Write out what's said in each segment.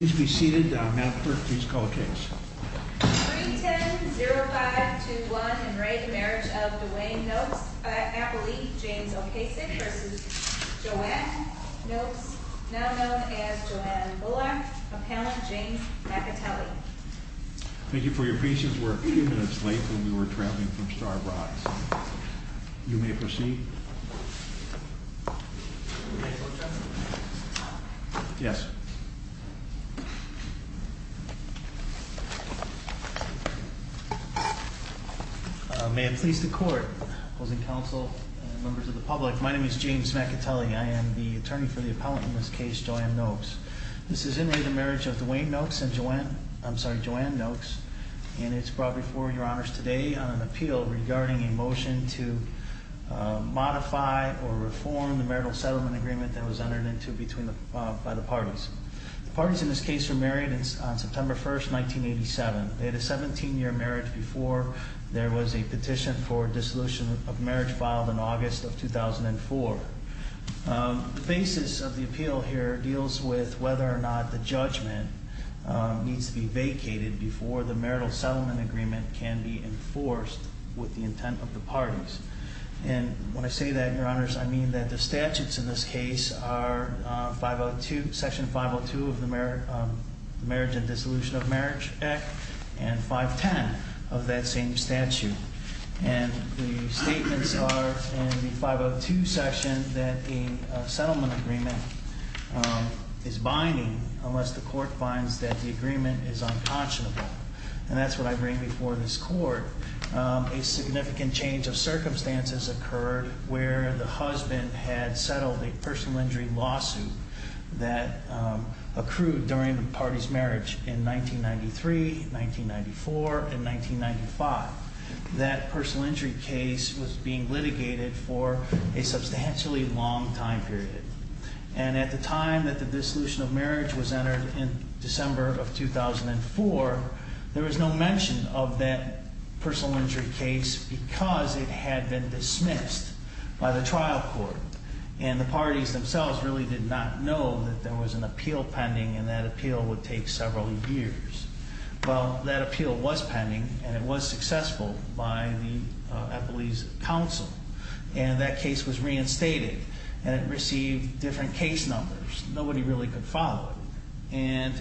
Please be seated. Madam Clerk, please call the case. 310-0521 in re Marriage of Duane Noakes, Appellee James O'Kasich vs. Joanne Noakes, now known as Joanne Bullock, Appellant James McAtelly. Thank you for your patience. We're a few minutes late when we were traveling from Starbucks. You may proceed. Yes. May it please the court, opposing counsel, and members of the public, my name is James McAtelly. I am the attorney for the appellant in this case, Joanne Noakes. This is in re the marriage of Duane Noakes and Joanne, I'm sorry, Joanne Noakes. And it's brought before your honors today on an appeal regarding a motion to modify or reform the marital settlement agreement that was entered into by the parties. The parties in this case were married on September 1st, 1987. They had a 17 year marriage before there was a petition for a dissolution of marriage filed in August of 2004. The basis of the appeal here deals with whether or not the judgment needs to be vacated before the marital settlement agreement can be enforced with the intent of the parties. And when I say that, your honors, I mean that the statutes in this case are 502, section 502 of the Marriage and Dissolution of Marriage Act, and 510 of that same statute. And the statements are in the 502 section that a settlement agreement is binding unless the court finds that the agreement is unconscionable. And that's what I bring before this court. A significant change of circumstances occurred where the husband had settled a personal injury lawsuit that accrued during the party's marriage in 1993, 1994, and 1995. That personal injury case was being litigated for a substantially long time period. And at the time that the dissolution of marriage was entered in December of 2004, there was no mention of that personal injury case because it had been dismissed by the trial court. And the parties themselves really did not know that there was an appeal pending, and that appeal would take several years. Well, that appeal was pending, and it was successful by the Epley's counsel. And that case was reinstated, and it received different case numbers. Nobody really could follow it. And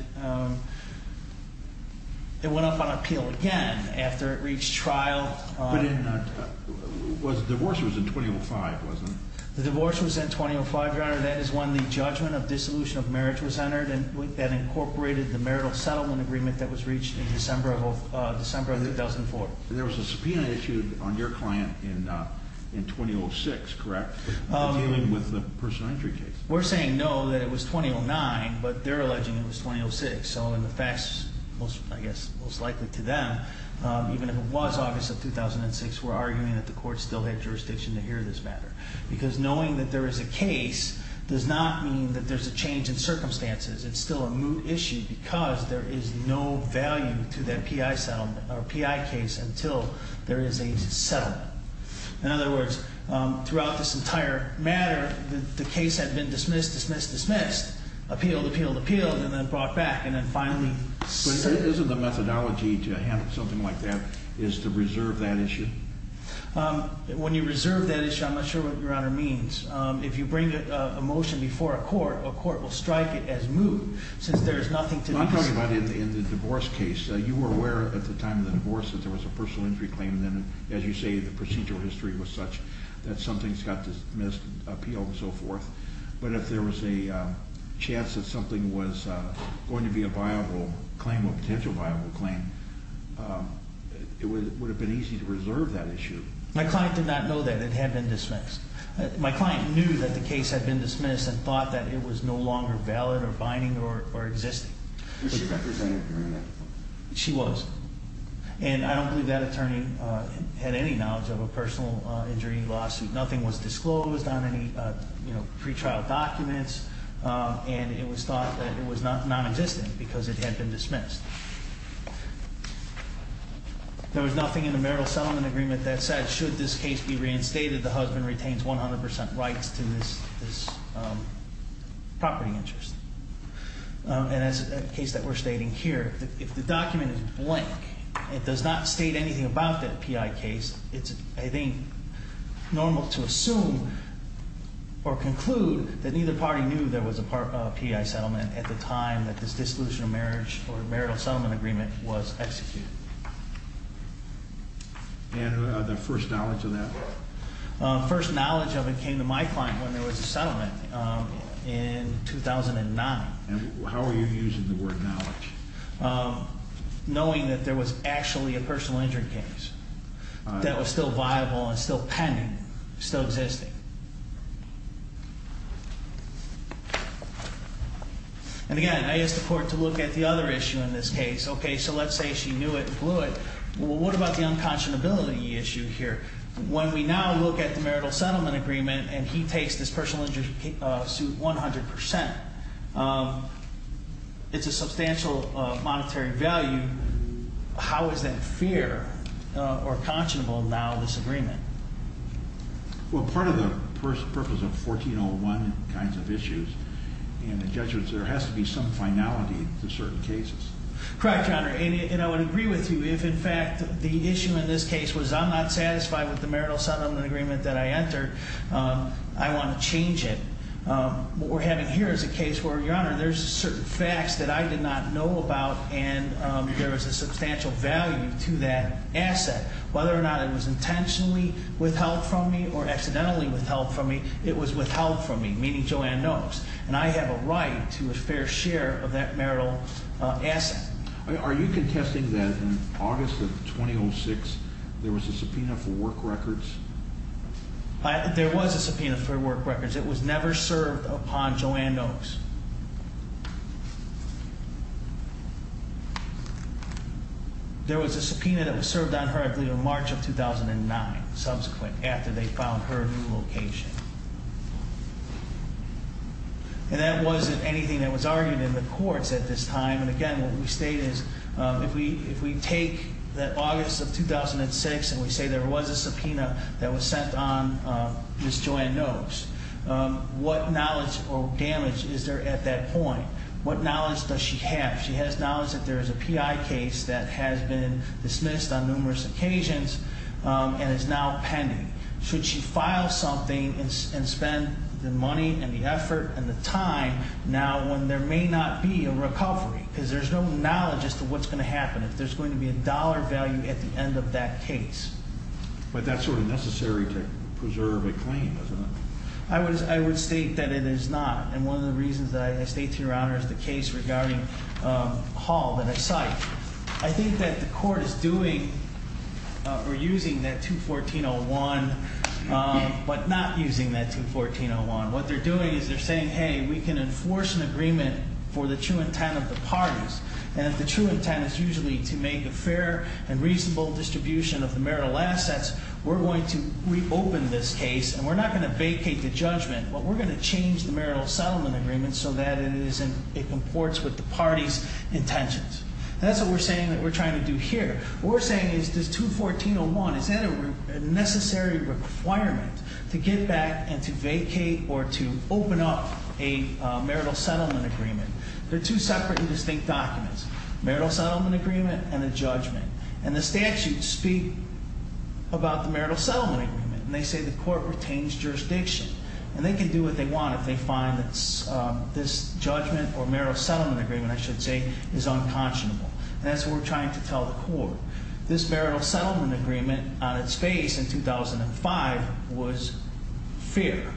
it went up on appeal again after it reached trial. But the divorce was in 2005, wasn't it? The divorce was in 2005, Your Honor. That is when the judgment of dissolution of marriage was entered, and that incorporated the marital settlement agreement that was reached in December of 2004. And there was a subpoena issued on your client in 2006, correct, dealing with the personal injury case? We're saying no, that it was 2009, but they're alleging it was 2006. So in the facts, I guess most likely to them, even if it was August of 2006, we're arguing that the court still had jurisdiction to hear this matter. Because knowing that there is a case does not mean that there's a change in circumstances. It's still a moot issue because there is no value to that PI case until there is a settlement. In other words, throughout this entire matter, the case had been dismissed, dismissed, dismissed, appealed, appealed, appealed, and then brought back, and then finally- But isn't the methodology to handle something like that is to reserve that issue? When you reserve that issue, I'm not sure what Your Honor means. If you bring a motion before a court, a court will strike it as moot, since there is nothing to- I'm talking about in the divorce case. You were aware at the time of the divorce that there was a personal injury claim. And then, as you say, the procedural history was such that some things got dismissed, appealed, and so forth. But if there was a chance that something was going to be a viable claim, a potential viable claim, it would have been easy to reserve that issue. My client did not know that it had been dismissed. My client knew that the case had been dismissed and thought that it was no longer valid or binding or existing. Was she represented during that? She was. And I don't believe that attorney had any knowledge of a personal injury lawsuit. Nothing was disclosed on any pre-trial documents. And it was thought that it was non-existent, because it had been dismissed. There was nothing in the marital settlement agreement that said, should this case be reinstated, the husband retains 100% rights to this property interest. And as a case that we're stating here, if the document is blank, it does not state anything about that PI case. It's, I think, normal to assume or conclude that neither party knew there was a PI settlement at the time that this dissolution of marriage or marital settlement agreement was executed. And the first knowledge of that? First knowledge of it came to my client when there was a settlement in 2009. And how are you using the word knowledge? Knowing that there was actually a personal injury case that was still viable and still pending, still existing. And again, I asked the court to look at the other issue in this case. Okay, so let's say she knew it and blew it. Well, what about the unconscionability issue here? When we now look at the marital settlement agreement, and he takes this personal injury suit 100%, it's a substantial monetary value. How is that fair or conscionable now, this agreement? Well, part of the purpose of 1401 kinds of issues in the judgements, there has to be some finality to certain cases. Correct, Your Honor, and I would agree with you if, in fact, the issue in this case was I'm not satisfied with the marital settlement agreement that I entered, I want to change it. What we're having here is a case where, Your Honor, there's certain facts that I did not know about and there is a substantial value to that asset, whether or not it was intentionally withheld from me or accidentally withheld from me, it was withheld from me, meaning Joanne knows. And I have a right to a fair share of that marital asset. Are you contesting that in August of 2006, there was a subpoena for work records? There was a subpoena for work records. It was never served upon Joanne Oaks. There was a subpoena that was served on her in March of 2009, subsequent, after they found her new location. And that wasn't anything that was argued in the courts at this time. And again, what we state is, if we take that August of 2006 and we say there was a subpoena that was sent on Ms. Joanne Oaks, what knowledge or damage is there at that point, what knowledge does she have? She has knowledge that there is a PI case that has been dismissed on numerous occasions and is now pending. Should she file something and spend the money and the effort and the time now when there may not be a recovery, because there's no knowledge as to what's going to happen. If there's going to be a dollar value at the end of that case. But that's sort of necessary to preserve a claim, isn't it? I would state that it is not, and one of the reasons that I state to your honor is the case regarding Hall that I cite. I think that the court is doing or using that 214.01, but not using that 214.01. What they're doing is they're saying, hey, we can enforce an agreement for the true intent of the parties. And if the true intent is usually to make a fair and reasonable distribution of the marital assets, we're going to reopen this case and we're not going to vacate the judgment. But we're going to change the marital settlement agreement so that it comports with the party's intentions. That's what we're saying that we're trying to do here. What we're saying is this 214.01, is that a necessary requirement to get back and to vacate or to open up a marital settlement agreement? They're two separate and distinct documents, marital settlement agreement and a judgment. And the statutes speak about the marital settlement agreement, and they say the court retains jurisdiction. And they can do what they want if they find that this judgment or marital settlement agreement, I should say, is unconscionable. And that's what we're trying to tell the court. This marital settlement agreement on its face in 2005 was fair.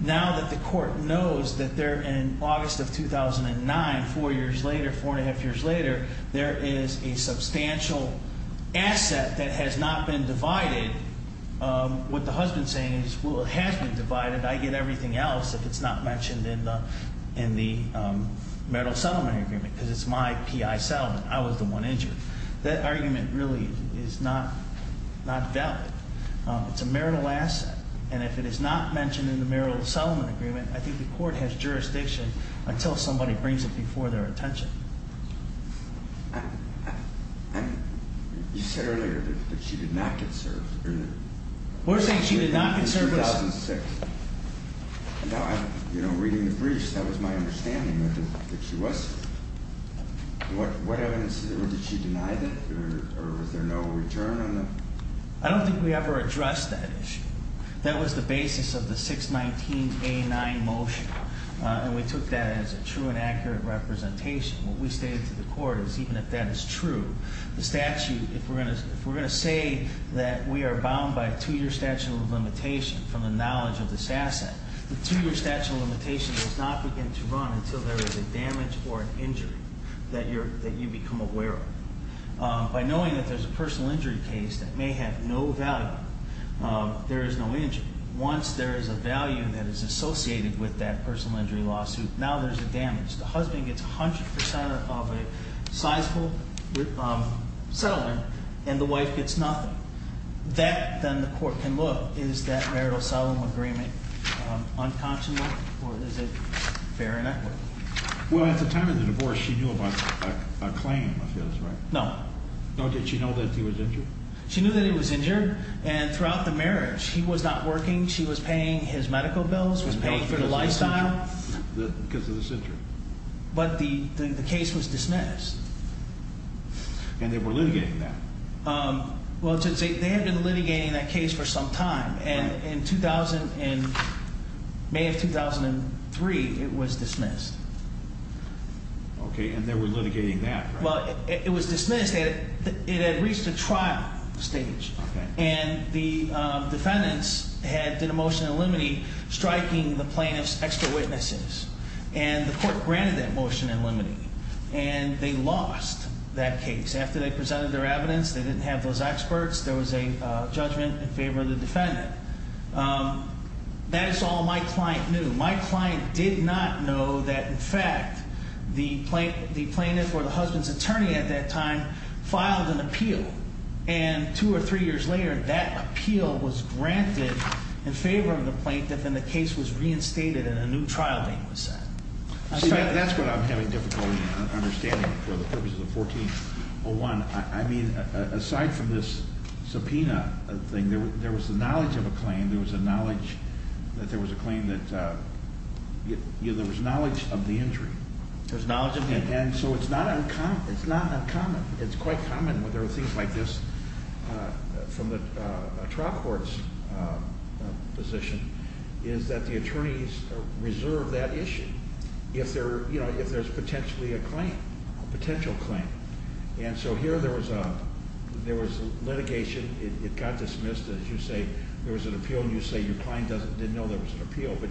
Now that the court knows that they're in August of 2009, four years later, four and a half years later, there is a substantial asset that has not been divided. What the husband's saying is, well, it has been divided. I get everything else if it's not mentioned in the marital settlement agreement, because it's my PI settlement. I was the one injured. That argument really is not valid. It's a marital asset. And if it is not mentioned in the marital settlement agreement, I think the court has jurisdiction until somebody brings it before their attention. You said earlier that she did not get served. We're saying she did not get served. In 2006. Now, reading the briefs, that was my understanding that she wasn't. What evidence, did she deny that, or was there no return on that? I don't think we ever addressed that issue. That was the basis of the 619A9 motion, and we took that as a true and accurate representation. What we stated to the court is, even if that is true, the statute, if we're going to say that we are bound by a two-year statute of limitation from the knowledge of this asset, the two-year statute of limitation does not begin to run until there is a damage or an injury that you become aware of. By knowing that there's a personal injury case that may have no value, there is no injury. Once there is a value that is associated with that personal injury lawsuit, now there's a damage. The husband gets 100% of a sizeable settlement, and the wife gets nothing. That, then, the court can look, is that marital settlement agreement unconscionable, or is it fair and equal? Well, at the time of the divorce, she knew about a claim, I feel is right. No. No, did she know that he was injured? She knew that he was injured, and throughout the marriage, he was not working. She was paying his medical bills, was paying for the lifestyle. Because of this injury. But the case was dismissed. And they were litigating that. Well, they had been litigating that case for some time, and in May of 2003, it was dismissed. Okay, and they were litigating that, right? Well, it was dismissed, it had reached a trial stage. And the defendants had did a motion in limine striking the plaintiff's extra witnesses. And the court granted that motion in limine, and they lost that case. After they presented their evidence, they didn't have those experts, there was a judgment in favor of the defendant. That is all my client knew. My client did not know that, in fact, the plaintiff or the husband's attorney at that time filed an appeal. And two or three years later, that appeal was granted in favor of the plaintiff, and the case was reinstated, and a new trial date was set. See, that's what I'm having difficulty understanding for the purposes of 1401. I mean, aside from this subpoena thing, there was the knowledge of a claim. There was a knowledge that there was a claim that, there was knowledge of the injury. There's knowledge of the injury. And so it's not uncommon, it's quite common when there are things like this from a trial court's position, is that the attorneys reserve that issue if there's potentially a claim, a potential claim. And so here there was litigation, it got dismissed, as you say. There was an appeal, and you say your client didn't know there was an appeal, but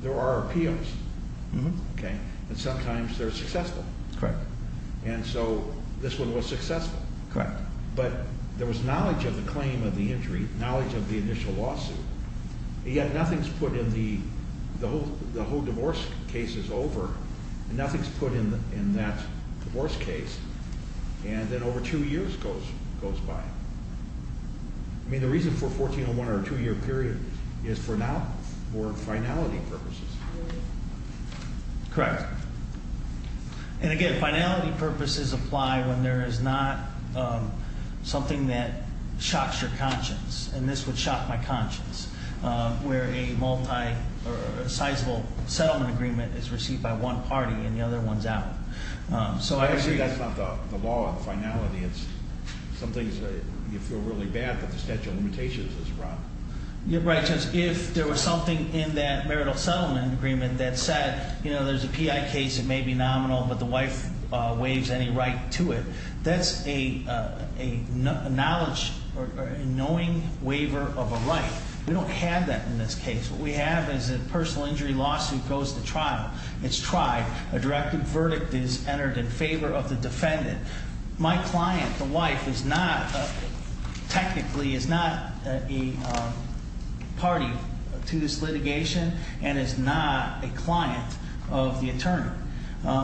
there are appeals, okay? And sometimes they're successful. Correct. And so this one was successful. Correct. But there was knowledge of the claim of the injury, knowledge of the initial lawsuit. And yet nothing's put in the, the whole divorce case is over, and nothing's put in that divorce case, and then over two years goes by. I mean, the reason for a 1401 or a two year period is for now, for finality purposes. Correct. And again, finality purposes apply when there is not something that shocks your conscience. And this would shock my conscience, where a multi, or a sizable settlement agreement is received by one party and the other one's out. So I see that's not the law of finality. It's something you feel really bad that the statute of limitations is wrong. You're right, Judge. If there was something in that marital settlement agreement that said, there's a PI case, it may be nominal, but the wife waives any right to it. That's a knowledge or a knowing waiver of a right. We don't have that in this case. What we have is a personal injury lawsuit goes to trial. It's tried. A directive verdict is entered in favor of the defendant. My client, the wife, is not, technically, is not a party to this litigation and is not a client of the attorney.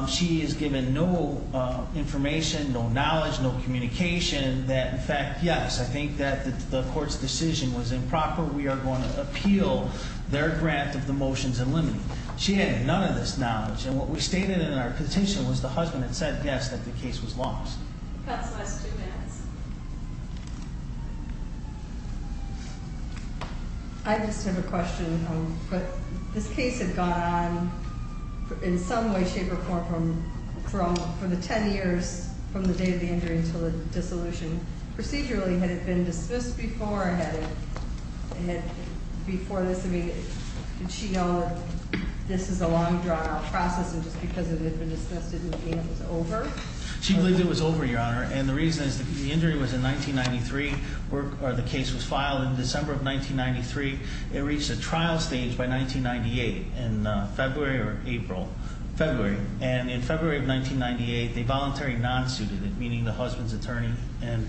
She is given no information, no knowledge, no communication that in fact, yes, I think that the court's decision was improper, we are going to appeal their grant of the motions and limited. She had none of this knowledge. And what we stated in our petition was the husband had said yes, that the case was lost. That's the last two minutes. I just have a question. But this case had gone on, in some way, shape, or form, from the ten years from the day of the injury until the dissolution. Procedurally, had it been dismissed before, or had it, before this, did she know that this is a long drawn out process, and just because it had been dismissed didn't mean it was over? She believed it was over, Your Honor, and the reason is the injury was in 1993, or the case was filed in December of 1993. It reached a trial stage by 1998 in February or April, February. And in February of 1998, they voluntarily non-suited it, meaning the husband's attorney and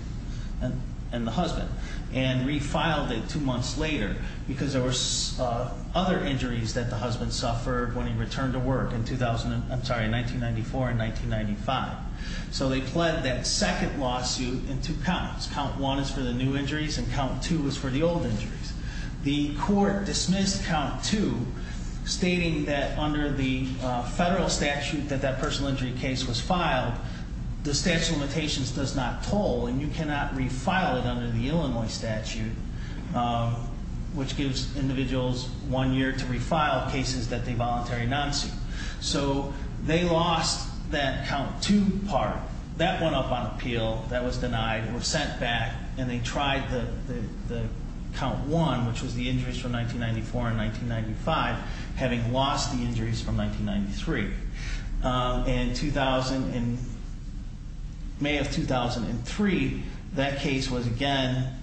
the husband. And refiled it two months later, because there were other injuries that the husband suffered when he returned to work in 2000, I'm sorry, in 1994 and 1995. So they pled that second lawsuit in two counts. Count one is for the new injuries, and count two is for the old injuries. The court dismissed count two, stating that under the federal statute that that personal injury case was filed, the statute of limitations does not toll, and you cannot refile it under the Illinois statute, which gives individuals one year to refile cases that they voluntarily non-suit. So they lost that count two part. That went up on appeal. That was denied, or sent back, and they tried the count one, which was the injuries from 1994 and 1995, having lost the injuries from 1993. And in May of 2003, that case was again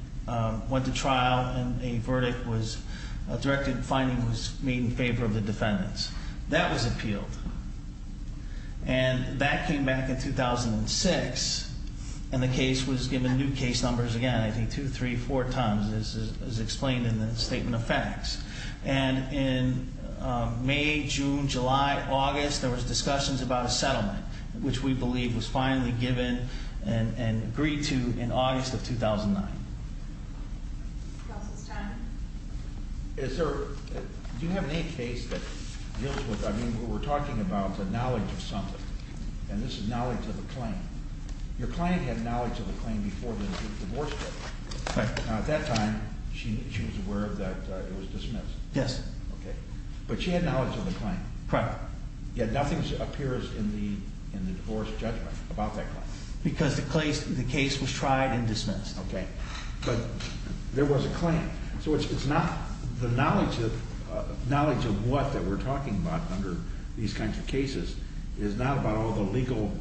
went to trial, and a verdict was directed, a finding was made in favor of the defendants. That was appealed, and that came back in 2006, and the case was given new case numbers again, I think two, three, four times, as explained in the statement of facts. And in May, June, July, August, there was discussions about a settlement, which we believe was finally given and agreed to in August of 2009. Is there, do you have any case that deals with, I mean, we were talking about the knowledge of something, and this is knowledge of a claim. Your client had knowledge of a claim before the divorce case. Right. At that time, she was aware that it was dismissed. Yes. Okay. But she had knowledge of the claim. Correct. Yet nothing appears in the divorce judgment about that claim. Because the case was tried and dismissed. Okay. But there was a claim. So it's not the knowledge of what that we're talking about under these kinds of cases is not about all the legal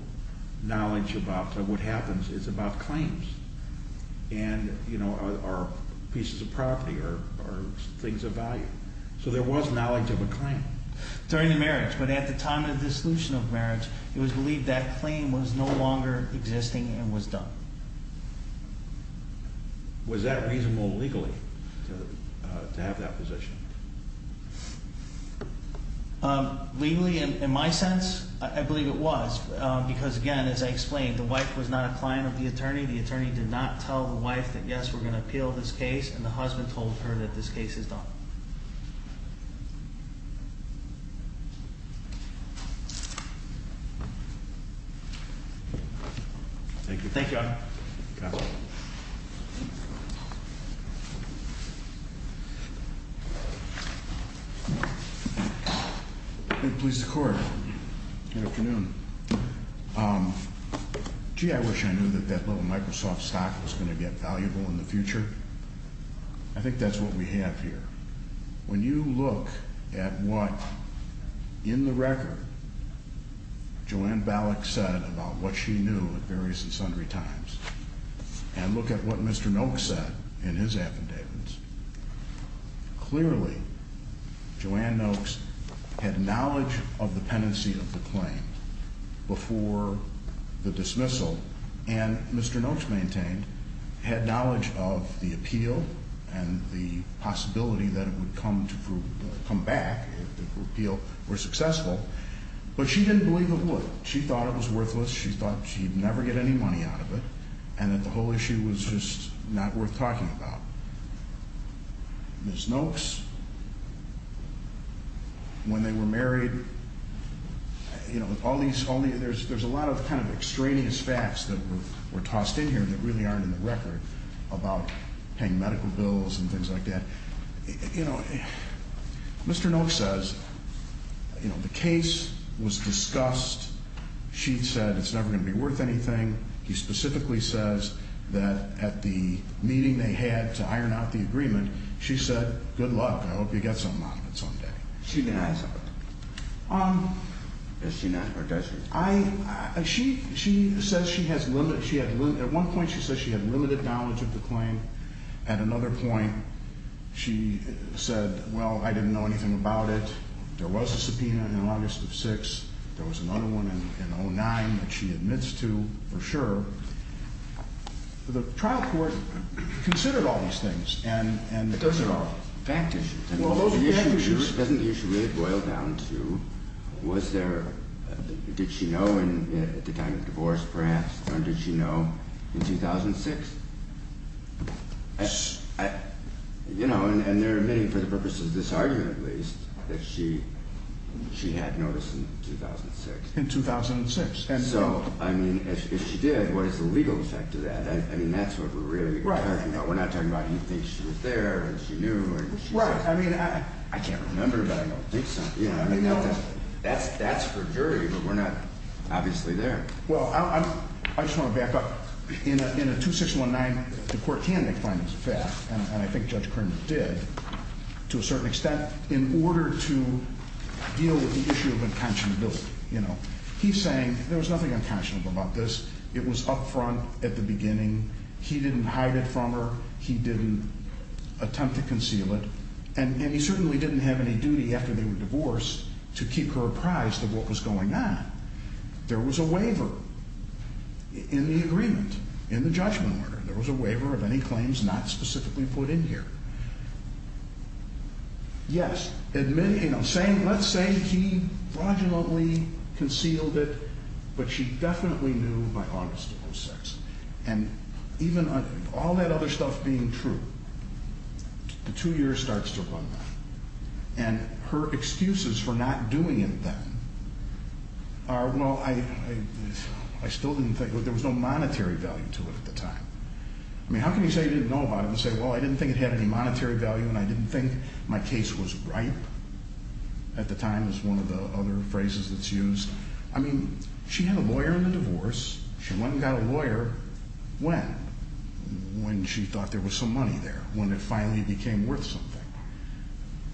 knowledge about what happens. It's about claims and, you know, or pieces of property or things of value. So there was knowledge of a claim. During the marriage, but at the time of the dissolution of marriage, it was believed that claim was no longer existing and was done. Was that reasonable legally to have that position? Legally, in my sense, I believe it was. Because, again, as I explained, the wife was not a client of the attorney. The attorney did not tell the wife that, yes, we're going to appeal this case. And the husband told her that this case is done. Thank you. Thank you, Your Honor. Good, please, the court. Good afternoon. Gee, I wish I knew that that little Microsoft stock was going to get valuable in the future. I think that's what we have here. When you look at what, in the record, Joanne Ballack said about what she knew at various and sundry times, and look at what Mr. Nolk said in his affidavits, clearly, Joanne Nolk's had knowledge of the pendency of the claim before the dismissal. And Mr. Nolk's maintained, had knowledge of the appeal and the possibility that it would come back if the appeal were successful. But she didn't believe it would. She thought it was worthless. She thought she'd never get any money out of it. And that the whole issue was just not worth talking about. Ms. Nolk's, when they were married, there's a lot of kind of extraneous facts that were tossed in here that really aren't in the record about paying medical bills and things like that. Mr. Nolk says, the case was discussed. She said it's never going to be worth anything. He specifically says that at the meeting they had to iron out the agreement, she said, good luck, I hope you get something out of it some day. She denies it. Does she not, or does she? She says she has, at one point she says she had limited knowledge of the claim. At another point, she said, well, I didn't know anything about it. There was a subpoena in August of six. There was another one in 09 that she admits to, for sure. The trial court considered all these things, and those are all fact issues. And the issue doesn't usually boil down to, was there, did she know at the time of the divorce, perhaps? Or did she know in 2006? And they're admitting, for the purposes of this argument at least, that she had noticed in 2006. In 2006. And so, I mean, if she did, what is the legal effect of that? I mean, that's what we're really talking about. We're not talking about he thinks she was there, and she knew, and she said. Right, I mean, I can't remember, but I don't think so. Yeah, I mean, that's for jury, but we're not obviously there. Well, I just want to back up. In a 2619, the court can make findings fast, and I think Judge Kern did. To a certain extent, in order to deal with the issue of unconscionability. He's saying, there was nothing unconscionable about this. It was up front at the beginning. He didn't hide it from her. He didn't attempt to conceal it. And he certainly didn't have any duty, after they were divorced, to keep her apprised of what was going on. There was a waiver in the agreement, in the judgment order. There was a waiver of any claims not specifically put in here. Yes, admitting, let's say he fraudulently concealed it, but she definitely knew by August of 06. And even all that other stuff being true, the two years starts to run by. And her excuses for not doing it then are, well, I still didn't think. There was no monetary value to it at the time. I mean, how can you say you didn't know about it and say, well, I didn't think it had any monetary value, and I didn't think my case was right. At the time, is one of the other phrases that's used. I mean, she had a lawyer in the divorce. She went and got a lawyer. When? When she thought there was some money there. When it finally became worth something.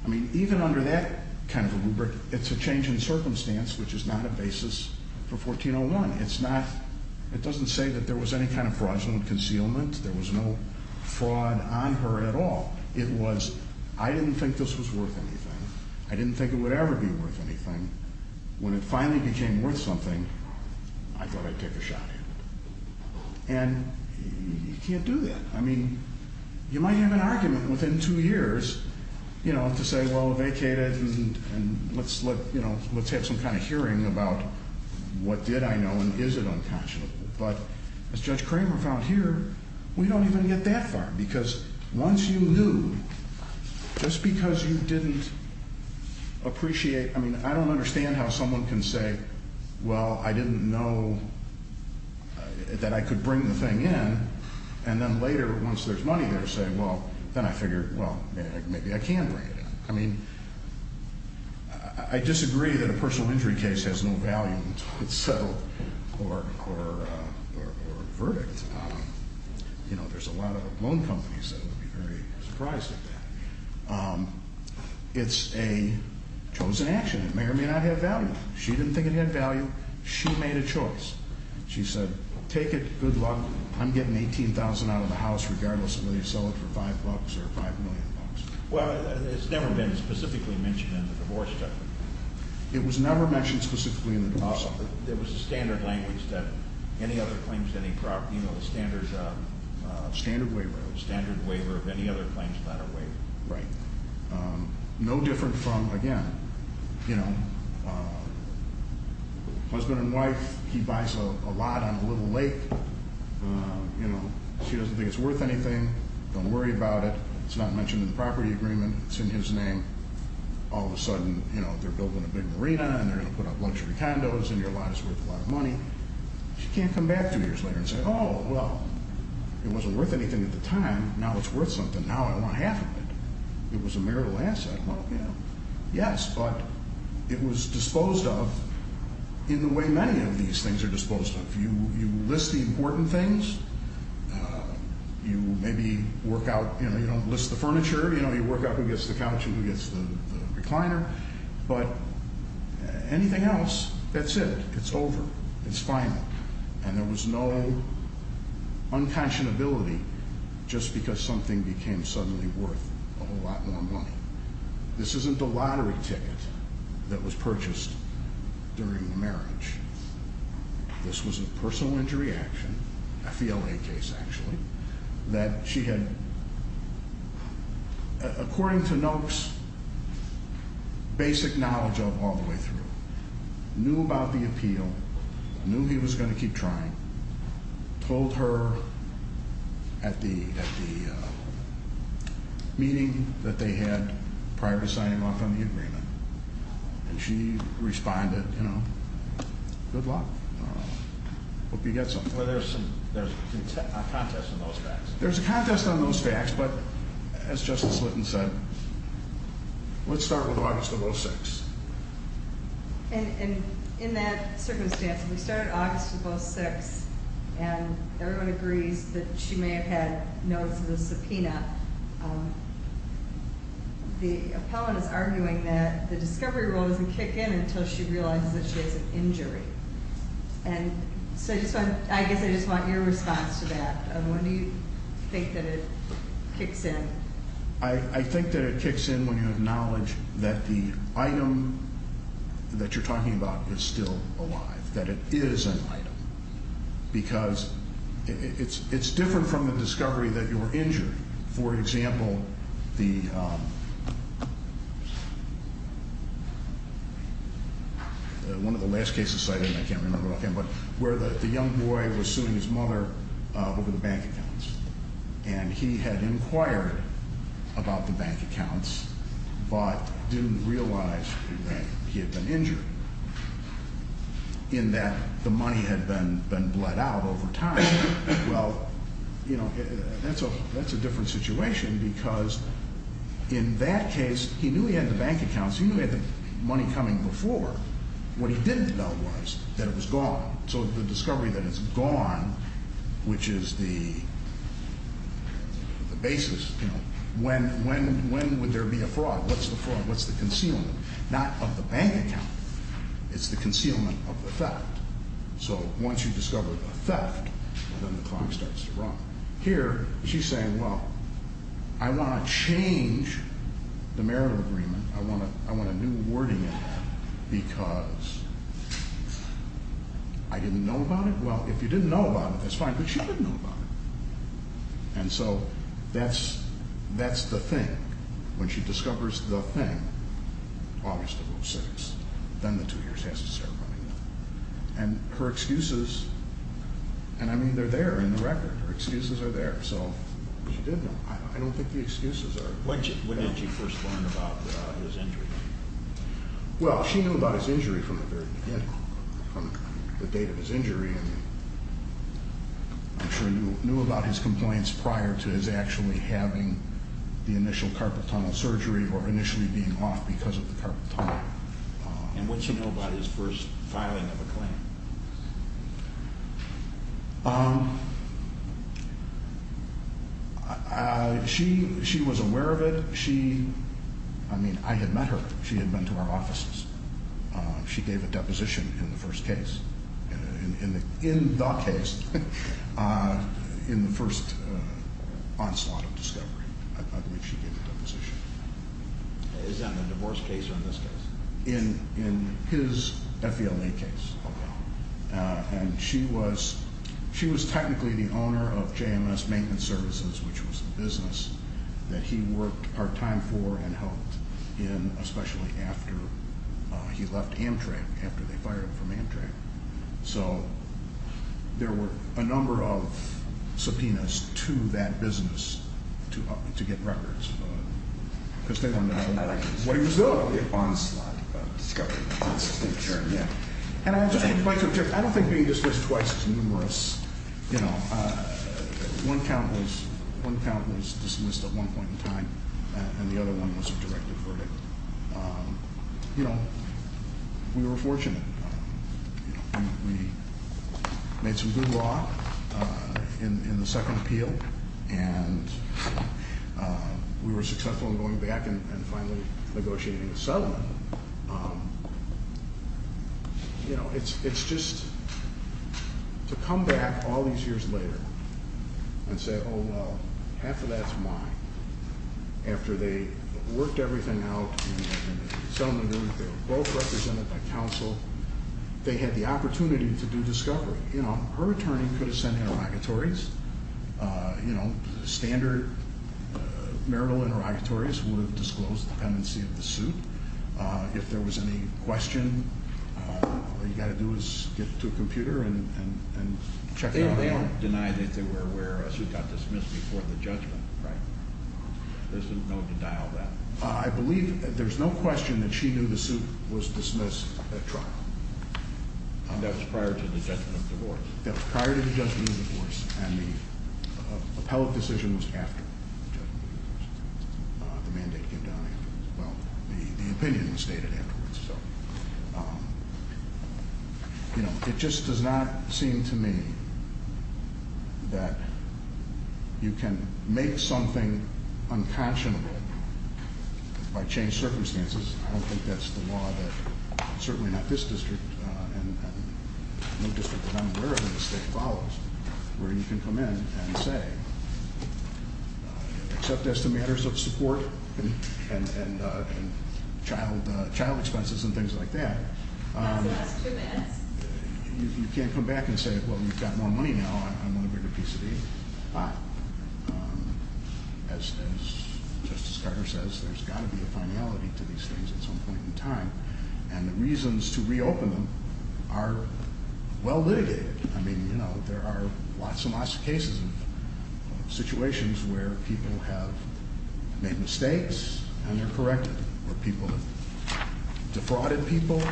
I mean, even under that kind of a rubric, it's a change in circumstance, which is not a basis for 1401. It's not, it doesn't say that there was any kind of fraudulent concealment. There was no fraud on her at all. It was, I didn't think this was worth anything. I didn't think it would ever be worth anything. When it finally became worth something, I thought I'd take a shot at it. And you can't do that. I mean, you might have an argument within two years, you know, to say, well, vacate it and, and let's look, you know, let's have some kind of hearing about what did I know and is it untouchable? But as Judge Kramer found here, we don't even get that far. Because once you knew, just because you didn't appreciate, I mean, I don't understand how someone can say, well, I didn't know that I could bring the thing in. And then later, once there's money there, say, well, then I figure, well, maybe I can bring it in. I mean, I disagree that a personal injury case has no value in itself or, or, or, or verdict. You know, there's a lot of loan companies that would be very surprised at that. It's a chosen action. It may or may not have value. She didn't think it had value. She made a choice. She said, take it, good luck. I'm getting 18,000 out of the house regardless of whether you sell it for five bucks or five million bucks. Well, it's never been specifically mentioned in the divorce document. It was never mentioned specifically in the divorce document. There was a standard language that any other claims to any property, you know, the standard, standard waiver, standard waiver of any other claims without a waiver. Right. No different from, again, you know, husband and wife, he buys a lot on a little lake. You know, she doesn't think it's worth anything. Don't worry about it. It's not mentioned in the property agreement. It's in his name. All of a sudden, you know, they're building a big marina and they're going to put up luxury condos and your lot is worth a lot of money. She can't come back two years later and say, oh, well, it wasn't worth anything at the time. Now it's worth something. Now I want half of it. It was a marital asset. Well, you know, yes, but it was disposed of in the way many of these things are disposed of. You, you list the important things. You maybe work out, you know, you don't list the furniture. You know, you work out who gets the couch and who gets the recliner. But anything else, that's it. It's over. It's final. And there was no unconscionability just because something became suddenly worth a whole lot more money. This isn't a lottery ticket that was purchased during the marriage. This was a personal injury action. A FLA case, actually, that she had, according to Noak's basic knowledge of all the way through, knew about the appeal, knew he was going to keep trying. Told her at the meeting that they had prior to signing off on the agreement. And she responded, you know, good luck. I hope you get something. There's a contest on those facts. There's a contest on those facts, but as Justice Litton said, let's start with August of 06. And in that circumstance, we started August of 06, and everyone agrees that she may have had notice of a subpoena. The appellant is arguing that the discovery rule doesn't kick in until she realizes that she has an injury. And so I guess I just want your response to that. When do you think that it kicks in? I think that it kicks in when you acknowledge that the item that you're talking about is still alive. That it is an item. Because it's different from the discovery that you were injured. For example, one of the last cases where the young boy was suing his mother over the bank accounts. And he had inquired about the bank accounts, but didn't realize that he had been injured in that the money had been bled out over time. Well, that's a different situation because in that case, he knew he had the bank accounts, he knew he had the money coming before. What he didn't know was that it was gone. So the discovery that it's gone, which is the basis. When would there be a fraud? What's the fraud? What's the concealment? Not of the bank account, it's the concealment of the theft. So once you discover a theft, then the clock starts to run. Here, she's saying, well, I want to change the marital agreement. I want a new wording in it, because I didn't know about it. Well, if you didn't know about it, that's fine, but she didn't know about it. And so that's the thing. When she discovers the thing, August of 06, then the two years has to start running. And her excuses, and I mean they're there in the record, her excuses are there. So she didn't, I don't think the excuses are- Well, she knew about his injury from the very beginning, from the date of his injury. And I'm sure he knew about his complaints prior to his actually having the initial carpal tunnel surgery, or initially being off because of the carpal tunnel. And what did she know about his first filing of a claim? She was aware of it. She, I mean, I had met her. She had been to our offices. She gave a deposition in the first case. In the case, in the first onslaught of discovery, I believe she gave a deposition. Is that in the divorce case or in this case? In his FELA case. And she was technically the owner of JMS Maintenance Services, which was a business that he worked part-time for and helped in, especially after he left Amtrak, after they fired him from Amtrak. So there were a number of subpoenas to that business to get records. Because they wanted to know what he was doing. Onslaught of discovery, that's the term, yeah. And I'll just, I don't think being dismissed twice is numerous. One count was dismissed at one point in time, and the other one was a directed verdict. We were fortunate. We made some good law in the second appeal. And we were successful in going back and finally negotiating a settlement. It's just, to come back all these years later and say, well, half of that's mine, after they worked everything out and the settlement, they were both represented by counsel. They had the opportunity to do discovery. Her attorney could have sent interrogatories, standard marital interrogatories would have disclosed the pendency of the suit. If there was any question, all you gotta do is get to a computer and check it out. They don't deny that they were aware a suit got dismissed before the judgment, right? There's no denial of that. I believe, there's no question that she knew the suit was dismissed at trial. That was prior to the judgment of divorce. That was prior to the judgment of divorce, and the appellate decision was after the judgment of divorce. The mandate came down, well, the opinion was stated afterwards. So, it just does not seem to me that you can make something unconscionable by changed circumstances. I don't think that's the law that, certainly not this district, and no district that I'm aware of in the state follows, where you can come in and say, except as to matters of support and child expenses and things like that. You can't come back and say, well, you've got more money now, I want a bigger piece of these. But, as Justice Carter says, there's gotta be a finality to these things at some point in time. And the reasons to reopen them are well litigated. I mean, there are lots and lots of cases of situations where people have made mistakes, and they're corrected. Or people have defrauded people,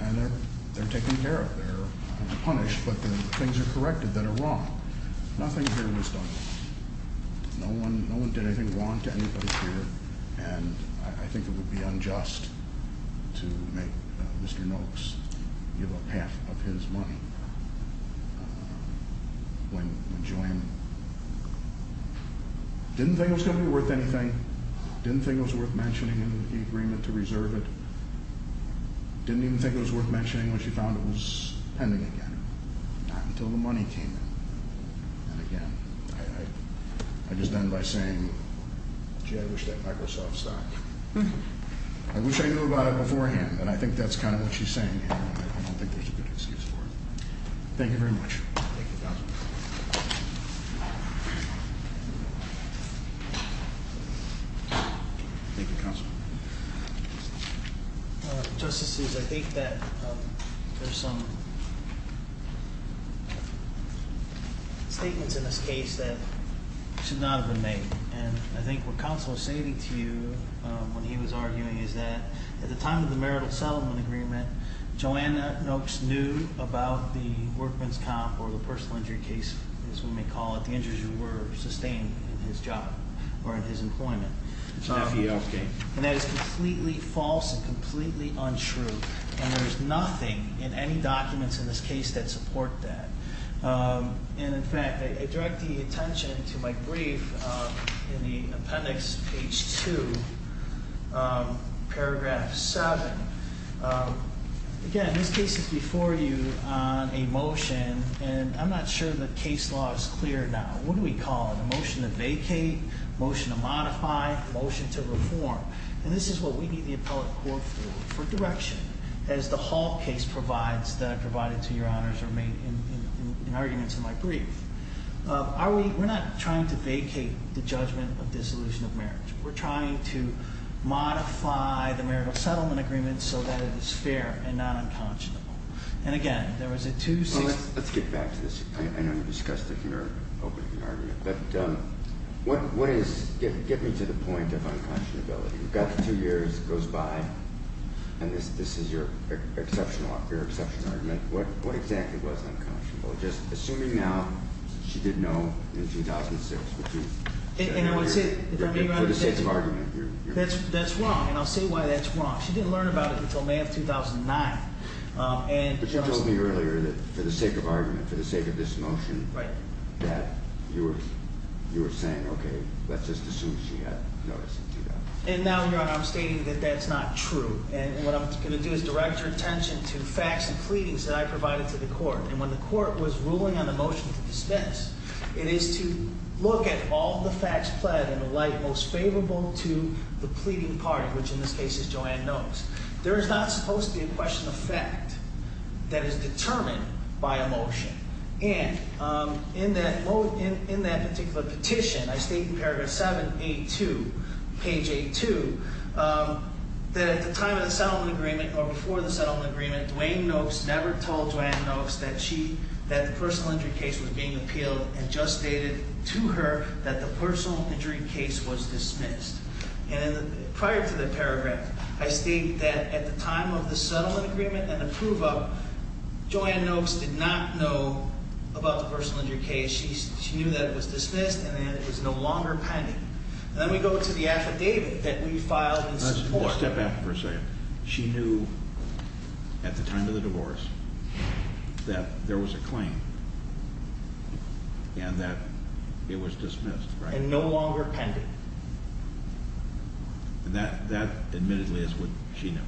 and they're taken care of. They're punished, but the things are corrected that are wrong. Nothing here was done wrong. No one did anything wrong to anybody here. And I think it would be unjust to make Mr. Noakes give up half of his money when Joanne. Didn't think it was going to be worth anything. Didn't think it was worth mentioning in the agreement to reserve it. Didn't even think it was worth mentioning when she found it was pending again. Not until the money came in. And again, I just end by saying, gee, I wish that Microsoft stopped. I wish I knew about it beforehand. And I think that's kind of what she's saying here, and I don't think there's a good excuse for it. Thank you very much. Thank you, Councilman. Thank you, Councilman. Justices, I think that there's some statements in this case that should not have been made. And I think what counsel was saying to you when he was arguing is that at the time of the marital settlement agreement, Joanna Noakes knew about the workman's comp or the personal injury case, as we may call it, the injuries were sustained in his job or in his employment. And that is completely false and completely untrue. And there's nothing in any documents in this case that support that. And in fact, I direct the attention to my brief in the appendix, page two, paragraph seven. Again, this case is before you on a motion, and I'm not sure the case law is clear now. What do we call it, a motion to vacate, a motion to modify, a motion to reform? And this is what we need the appellate court for, for direction. As the Hall case provides, that I provided to your honors, or made in arguments in my brief. We're not trying to vacate the judgment of dissolution of marriage. We're trying to modify the marital settlement agreement so that it is fair and not unconscionable. And again, there was a two- Let's get back to this. I know you discussed it in your opening argument. But what is, get me to the point of unconscionability. You've got the two years, it goes by, and this is your exceptional argument. What exactly was unconscionable? Just assuming now, she didn't know in 2006, which is- And I would say, if I may- For the sake of argument, you're- That's wrong, and I'll say why that's wrong. She didn't learn about it until May of 2009. And- But you told me earlier that, for the sake of argument, for the sake of this motion- Right. That you were, you were saying, okay, let's just assume she had noticed and do that. And now, your honor, I'm stating that that's not true. And what I'm gonna do is direct your attention to facts and pleadings that I provided to the court. And when the court was ruling on the motion to dismiss, it is to look at all the facts pled and alight most favorable to the pleading party, which in this case is Joanne Knowles. There is not supposed to be a question of fact that is determined by a motion. And in that particular petition, I state in paragraph 782, page 82, that at the time of the settlement agreement, or before the settlement agreement, Dwayne Knowles never told Joanne Knowles that she, that the personal injury case was being appealed and just stated to her that the personal injury case was dismissed. And in the, prior to the paragraph, I state that at the time of the settlement agreement and the prove of, Joanne Knowles did not know about the personal injury case. She, she knew that it was dismissed and that it was no longer pending. And then we go to the affidavit that we filed in support of- Step back for a second. She knew at the time of the divorce that there was a claim and that it was dismissed, right? And no longer pending. And that, that admittedly is what she knew.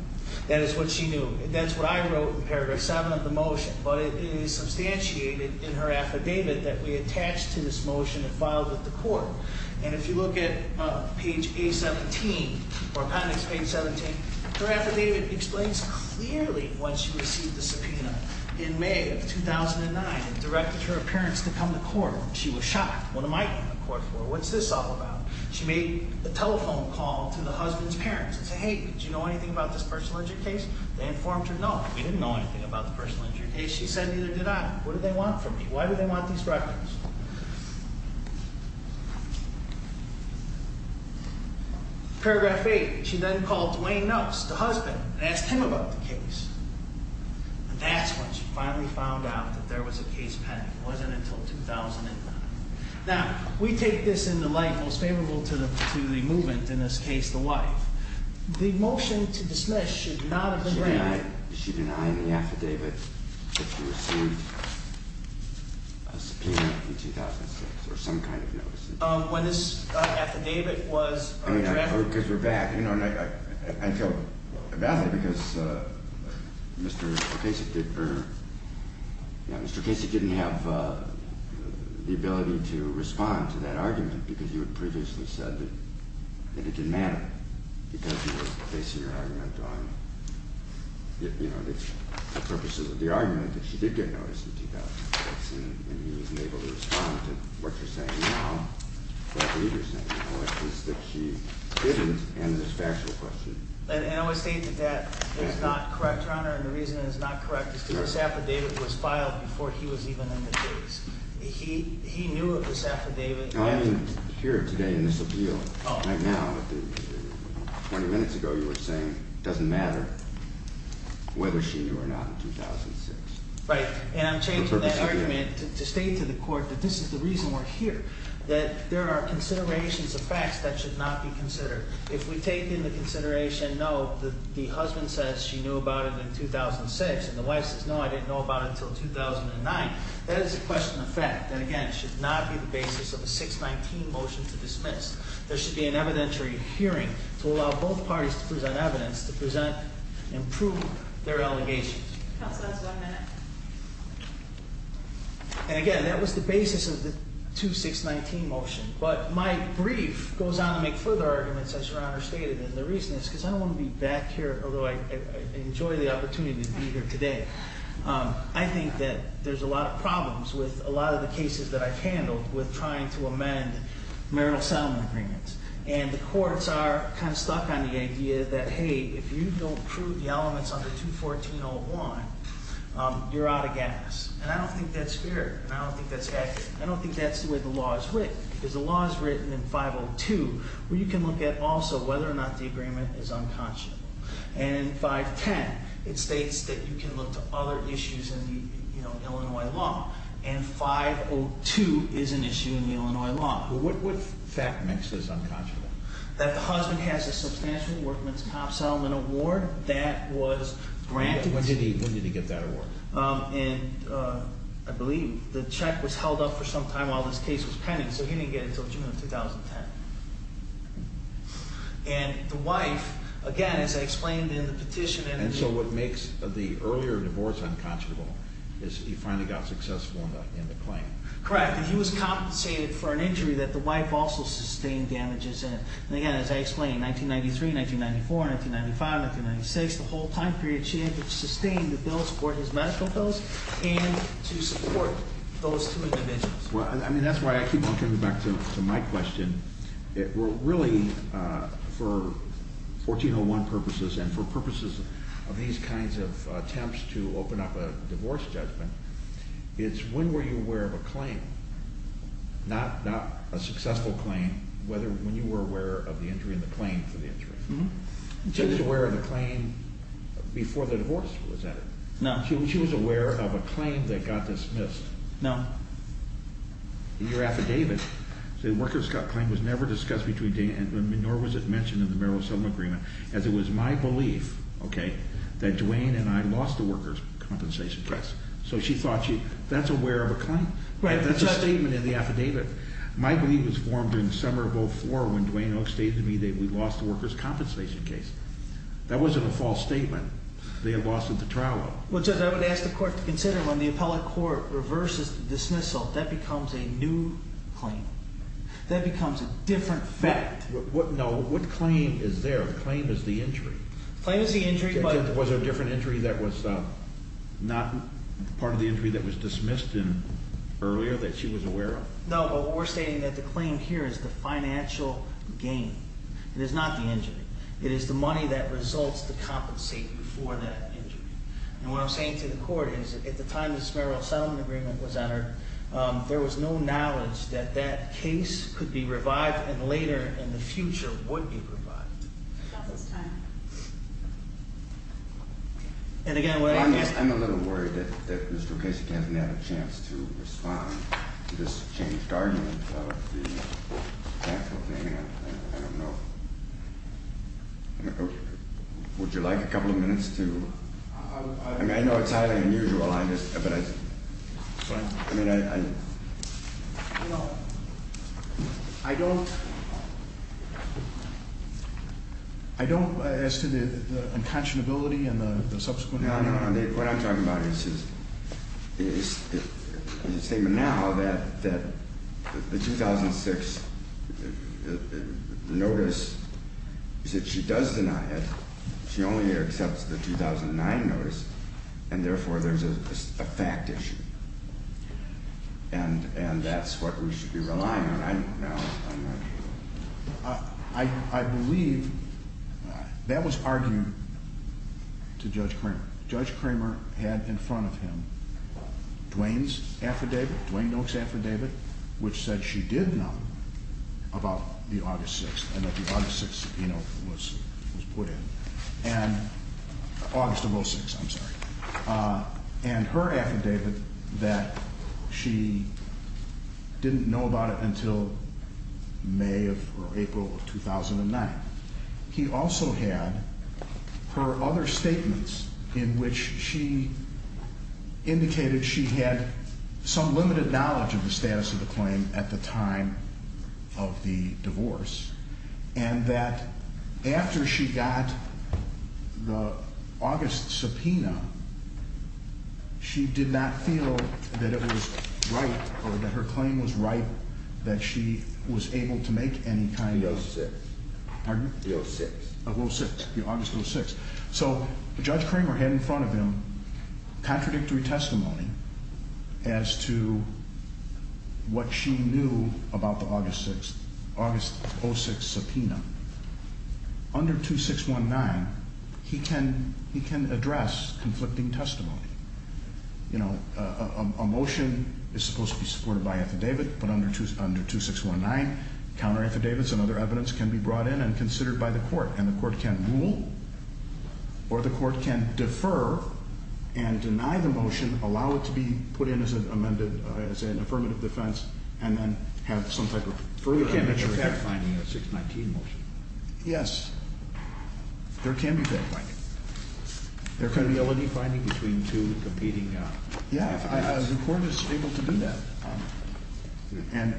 That is what she knew. That's what I wrote in paragraph seven of the motion. But it is substantiated in her affidavit that we attached to this motion and filed with the court. And if you look at page A17, or appendix page 17, her affidavit explains clearly when she received the subpoena. In May of 2009, it directed her appearance to come to court. She was shocked. What am I in court for? What's this all about? She made a telephone call to the husband's parents and said, hey, did you know anything about this personal injury case? They informed her, no, we didn't know anything about the personal injury case. She said, neither did I. What do they want from me? Why do they want these records? Paragraph eight, she then called Dwayne Knowles, the husband, and asked him about the case. And that's when she finally found out that there was a case pending. It wasn't until 2009. Now, we take this in the light most favorable to the movement, in this case, the wife. The motion to dismiss should not have been granted. She denied in the affidavit that she received a subpoena in 2006, or some kind of notice. When this affidavit was- I mean, I heard, because we're back, and I felt badly because Mr. Casey didn't have the ability to respond to that argument, because you had previously said that it didn't matter, because you were basing your argument on the purposes of the argument, that she did get notice in 2006, and he wasn't able to respond to what you're saying now, or what the reader's saying, or at least that she didn't, and this factual question. And I would state that that is not correct, Your Honor, and the reason it is not correct is because this affidavit was filed before he was even in the case. He knew of this affidavit- I mean, here today in this appeal, right now, 20 minutes ago, you were saying it doesn't matter whether she knew or not in 2006. Right, and I'm changing that argument to state to the court that this is the reason we're here, that there are considerations of facts that should not be considered. If we take into consideration, no, the husband says she knew about it in 2006, and the wife says, no, I didn't know about it until 2009, that is a question of fact. And again, it should not be the basis of a 619 motion to dismiss. There should be an evidentiary hearing to allow both parties to present evidence to present and prove their allegations. Counsel, that's one minute. And again, that was the basis of the 2619 motion, but my brief goes on to make further arguments, as Your Honor stated, and the reason is because I don't want to be back here, although I enjoy the opportunity to be here today. I think that there's a lot of problems with a lot of the cases that I've handled with trying to amend marital settlement agreements, and the courts are kind of stuck on the idea that, hey, if you don't prove the elements under 214.01, you're out of gas. And I don't think that's fair, and I don't think that's accurate. I don't think that's the way the law is written, because the law is written in 502, where you can look at also whether or not the agreement is unconscionable. And in 510, it states that you can look to other issues in the Illinois law. And 502 is an issue in the Illinois law. But what fact makes this unconscionable? That the husband has a substantial workman's comp settlement award that was granted. When did he get that award? In, I believe, the check was held up for some time while this case was pending, so he didn't get it until June of 2010. And the wife, again, as I explained in the petition- And so what makes the earlier divorce unconscionable is he finally got successful in the claim. Correct, and he was compensated for an injury that the wife also sustained damages in. And again, as I explained, 1993, 1994, 1995, 1996, the whole time period, she had to sustain the bill, support his medical bills, and to support those two individuals. Well, I mean, that's why I keep on coming back to my question. Really, for 1401 purposes and for purposes of these kinds of attempts to open up a divorce judgment, it's when were you aware of a claim, not a successful claim, whether when you were aware of the injury and the claim for the injury. She was aware of the claim before the divorce was entered. No. She was aware of a claim that got dismissed. No. In your affidavit, the workers' claim was never discussed between Dana and me, nor was it mentioned in the Marital Asylum Agreement, as it was my belief, okay, that Duane and I lost the workers' compensation case. So she thought she, that's aware of a claim. That's a statement in the affidavit. My belief was formed in the summer of 2004 when Duane Oakes stated to me that we lost the workers' compensation case. That wasn't a false statement. They had lost it at the trial. Well, Judge, I would ask the court to consider when the appellate court reverses the dismissal, that becomes a new claim. That becomes a different fact. No, what claim is there? The claim is the injury. Claim is the injury, but- Was there a different injury that was not part of the injury that was dismissed earlier that she was aware of? No, but we're stating that the claim here is the financial gain. It is not the injury. It is the money that results to compensate before that injury. And what I'm saying to the court is, at the time this marital settlement agreement was entered, there was no knowledge that that case could be revived and later in the future would be revived. About this time. And again, what I'm- I'm a little worried that Mr. Ocasek hasn't had a chance to respond to this changed argument about the fact of the, I don't know. Would you like a couple of minutes to? I mean, I know it's highly unusual, but I just, I mean, I. You know, I don't, I don't, as to the unconscionability and the subsequent- No, no, no, what I'm talking about is, is the statement now that the 2006 notice is that she does deny it. She only accepts the 2009 notice, and therefore there's a fact issue. And that's what we should be relying on. I don't know, I'm not sure. I believe that was argued to Judge Cramer. Judge Cramer had in front of him Dwayne's affidavit, Dwayne Noakes' affidavit, which said she did know about the August 6th, and that the August 6th, you know, was put in. And, August of 06, I'm sorry. And her affidavit that she didn't know about it until May or April of 2009. He also had her other statements in which she indicated she had some limited knowledge of the status of the claim at the time of the divorce. And that after she got the August subpoena, she did not feel that it was right, or that her claim was right, that she was able to make any kind of- The 06. Pardon? The 06. The 06, the August 06. So, Judge Cramer had in front of him contradictory testimony as to what she knew about the August 06 subpoena. Under 2619, he can address conflicting testimony. You know, a motion is supposed to be supported by affidavit, but under 2619, counter affidavits and other evidence can be brought in and considered by the court. And the court can rule, or the court can defer and deny the motion, allow it to be put in as an affirmative defense, and then have some type of further- There can be a fact-finding in a 619 motion. Yes, there can be fact-finding. There can be a- A reality finding between two competing affidavits. Yeah, the court is able to do that. And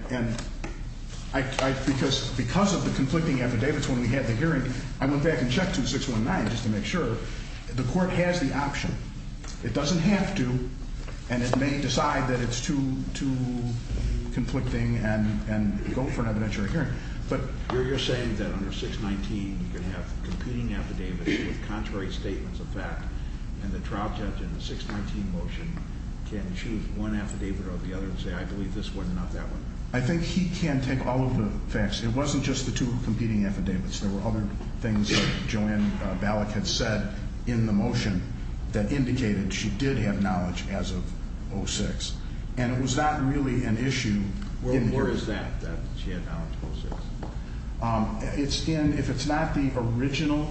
I, because of the conflicting affidavits when we had the hearing, I went back and checked 2619 just to make sure. The court has the option. It doesn't have to, and it may decide that it's too conflicting and go for an evidentiary hearing. But you're saying that under 619, you can have competing affidavits with contrary statements of fact. And the trial judge in the 619 motion can choose one affidavit or the other and say, I believe this one, not that one. I think he can take all of the facts. It wasn't just the two competing affidavits. There were other things that Joanne Ballack had said in the motion that indicated she did have knowledge as of 06. And it was not really an issue. Well, where is that, that she had knowledge of 06? It's in, if it's not the original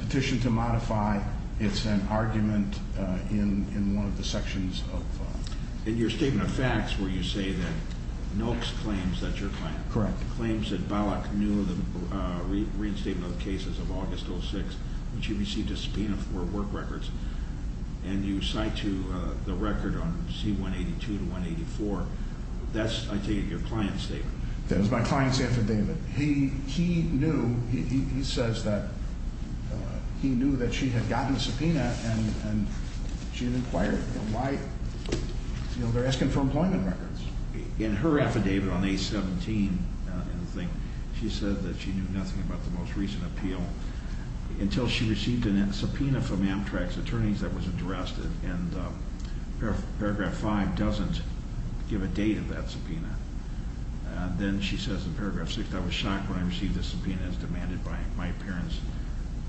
petition to modify, it's an argument in one of the sections of- In your statement of facts where you say that Noakes claims that your client- Correct. Claims that Ballack knew of the reinstatement of cases of August 06, which he received a subpoena for work records. And you cite to the record on C182 to 184, that's, I take it, your client's statement. That's my client's affidavit. He knew, he says that he knew that she had gotten a subpoena and she had inquired why, they're asking for employment records. In her affidavit on A17, she said that she knew nothing about the most recent appeal until she received a subpoena from Amtrak's attorneys that was addressed. And paragraph five doesn't give a date of that subpoena. Then she says in paragraph six, I was shocked when I received a subpoena as demanded by my parents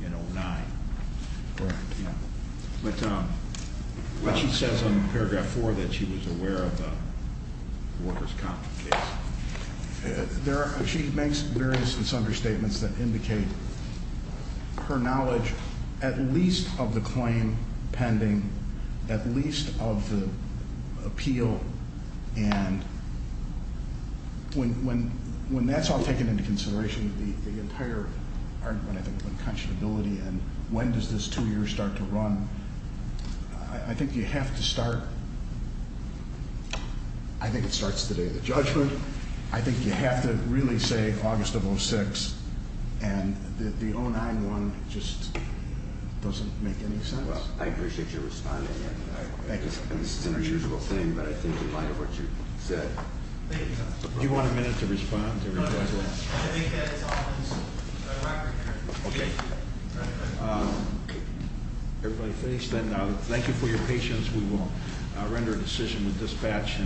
in 09. Correct. Yeah. But she says on paragraph four that she was aware of the workers' comp case. She makes various misunderstatements that indicate her knowledge at least of the claim pending, at least of the appeal. And when that's all taken into consideration, the entire argument I think of unconscionability and when does this two year start to run? I think you have to start, I think it starts the day of the judgment. I think you have to really say August of 06, and the 09 one just doesn't make any sense. Well, I appreciate your responding, and I think it's an unusual thing, but I think in light of what you've said. Do you want a minute to respond to everybody else? I think that it's all in the record here. Okay. Everybody face, then thank you for your patience. We will render a decision with dispatch.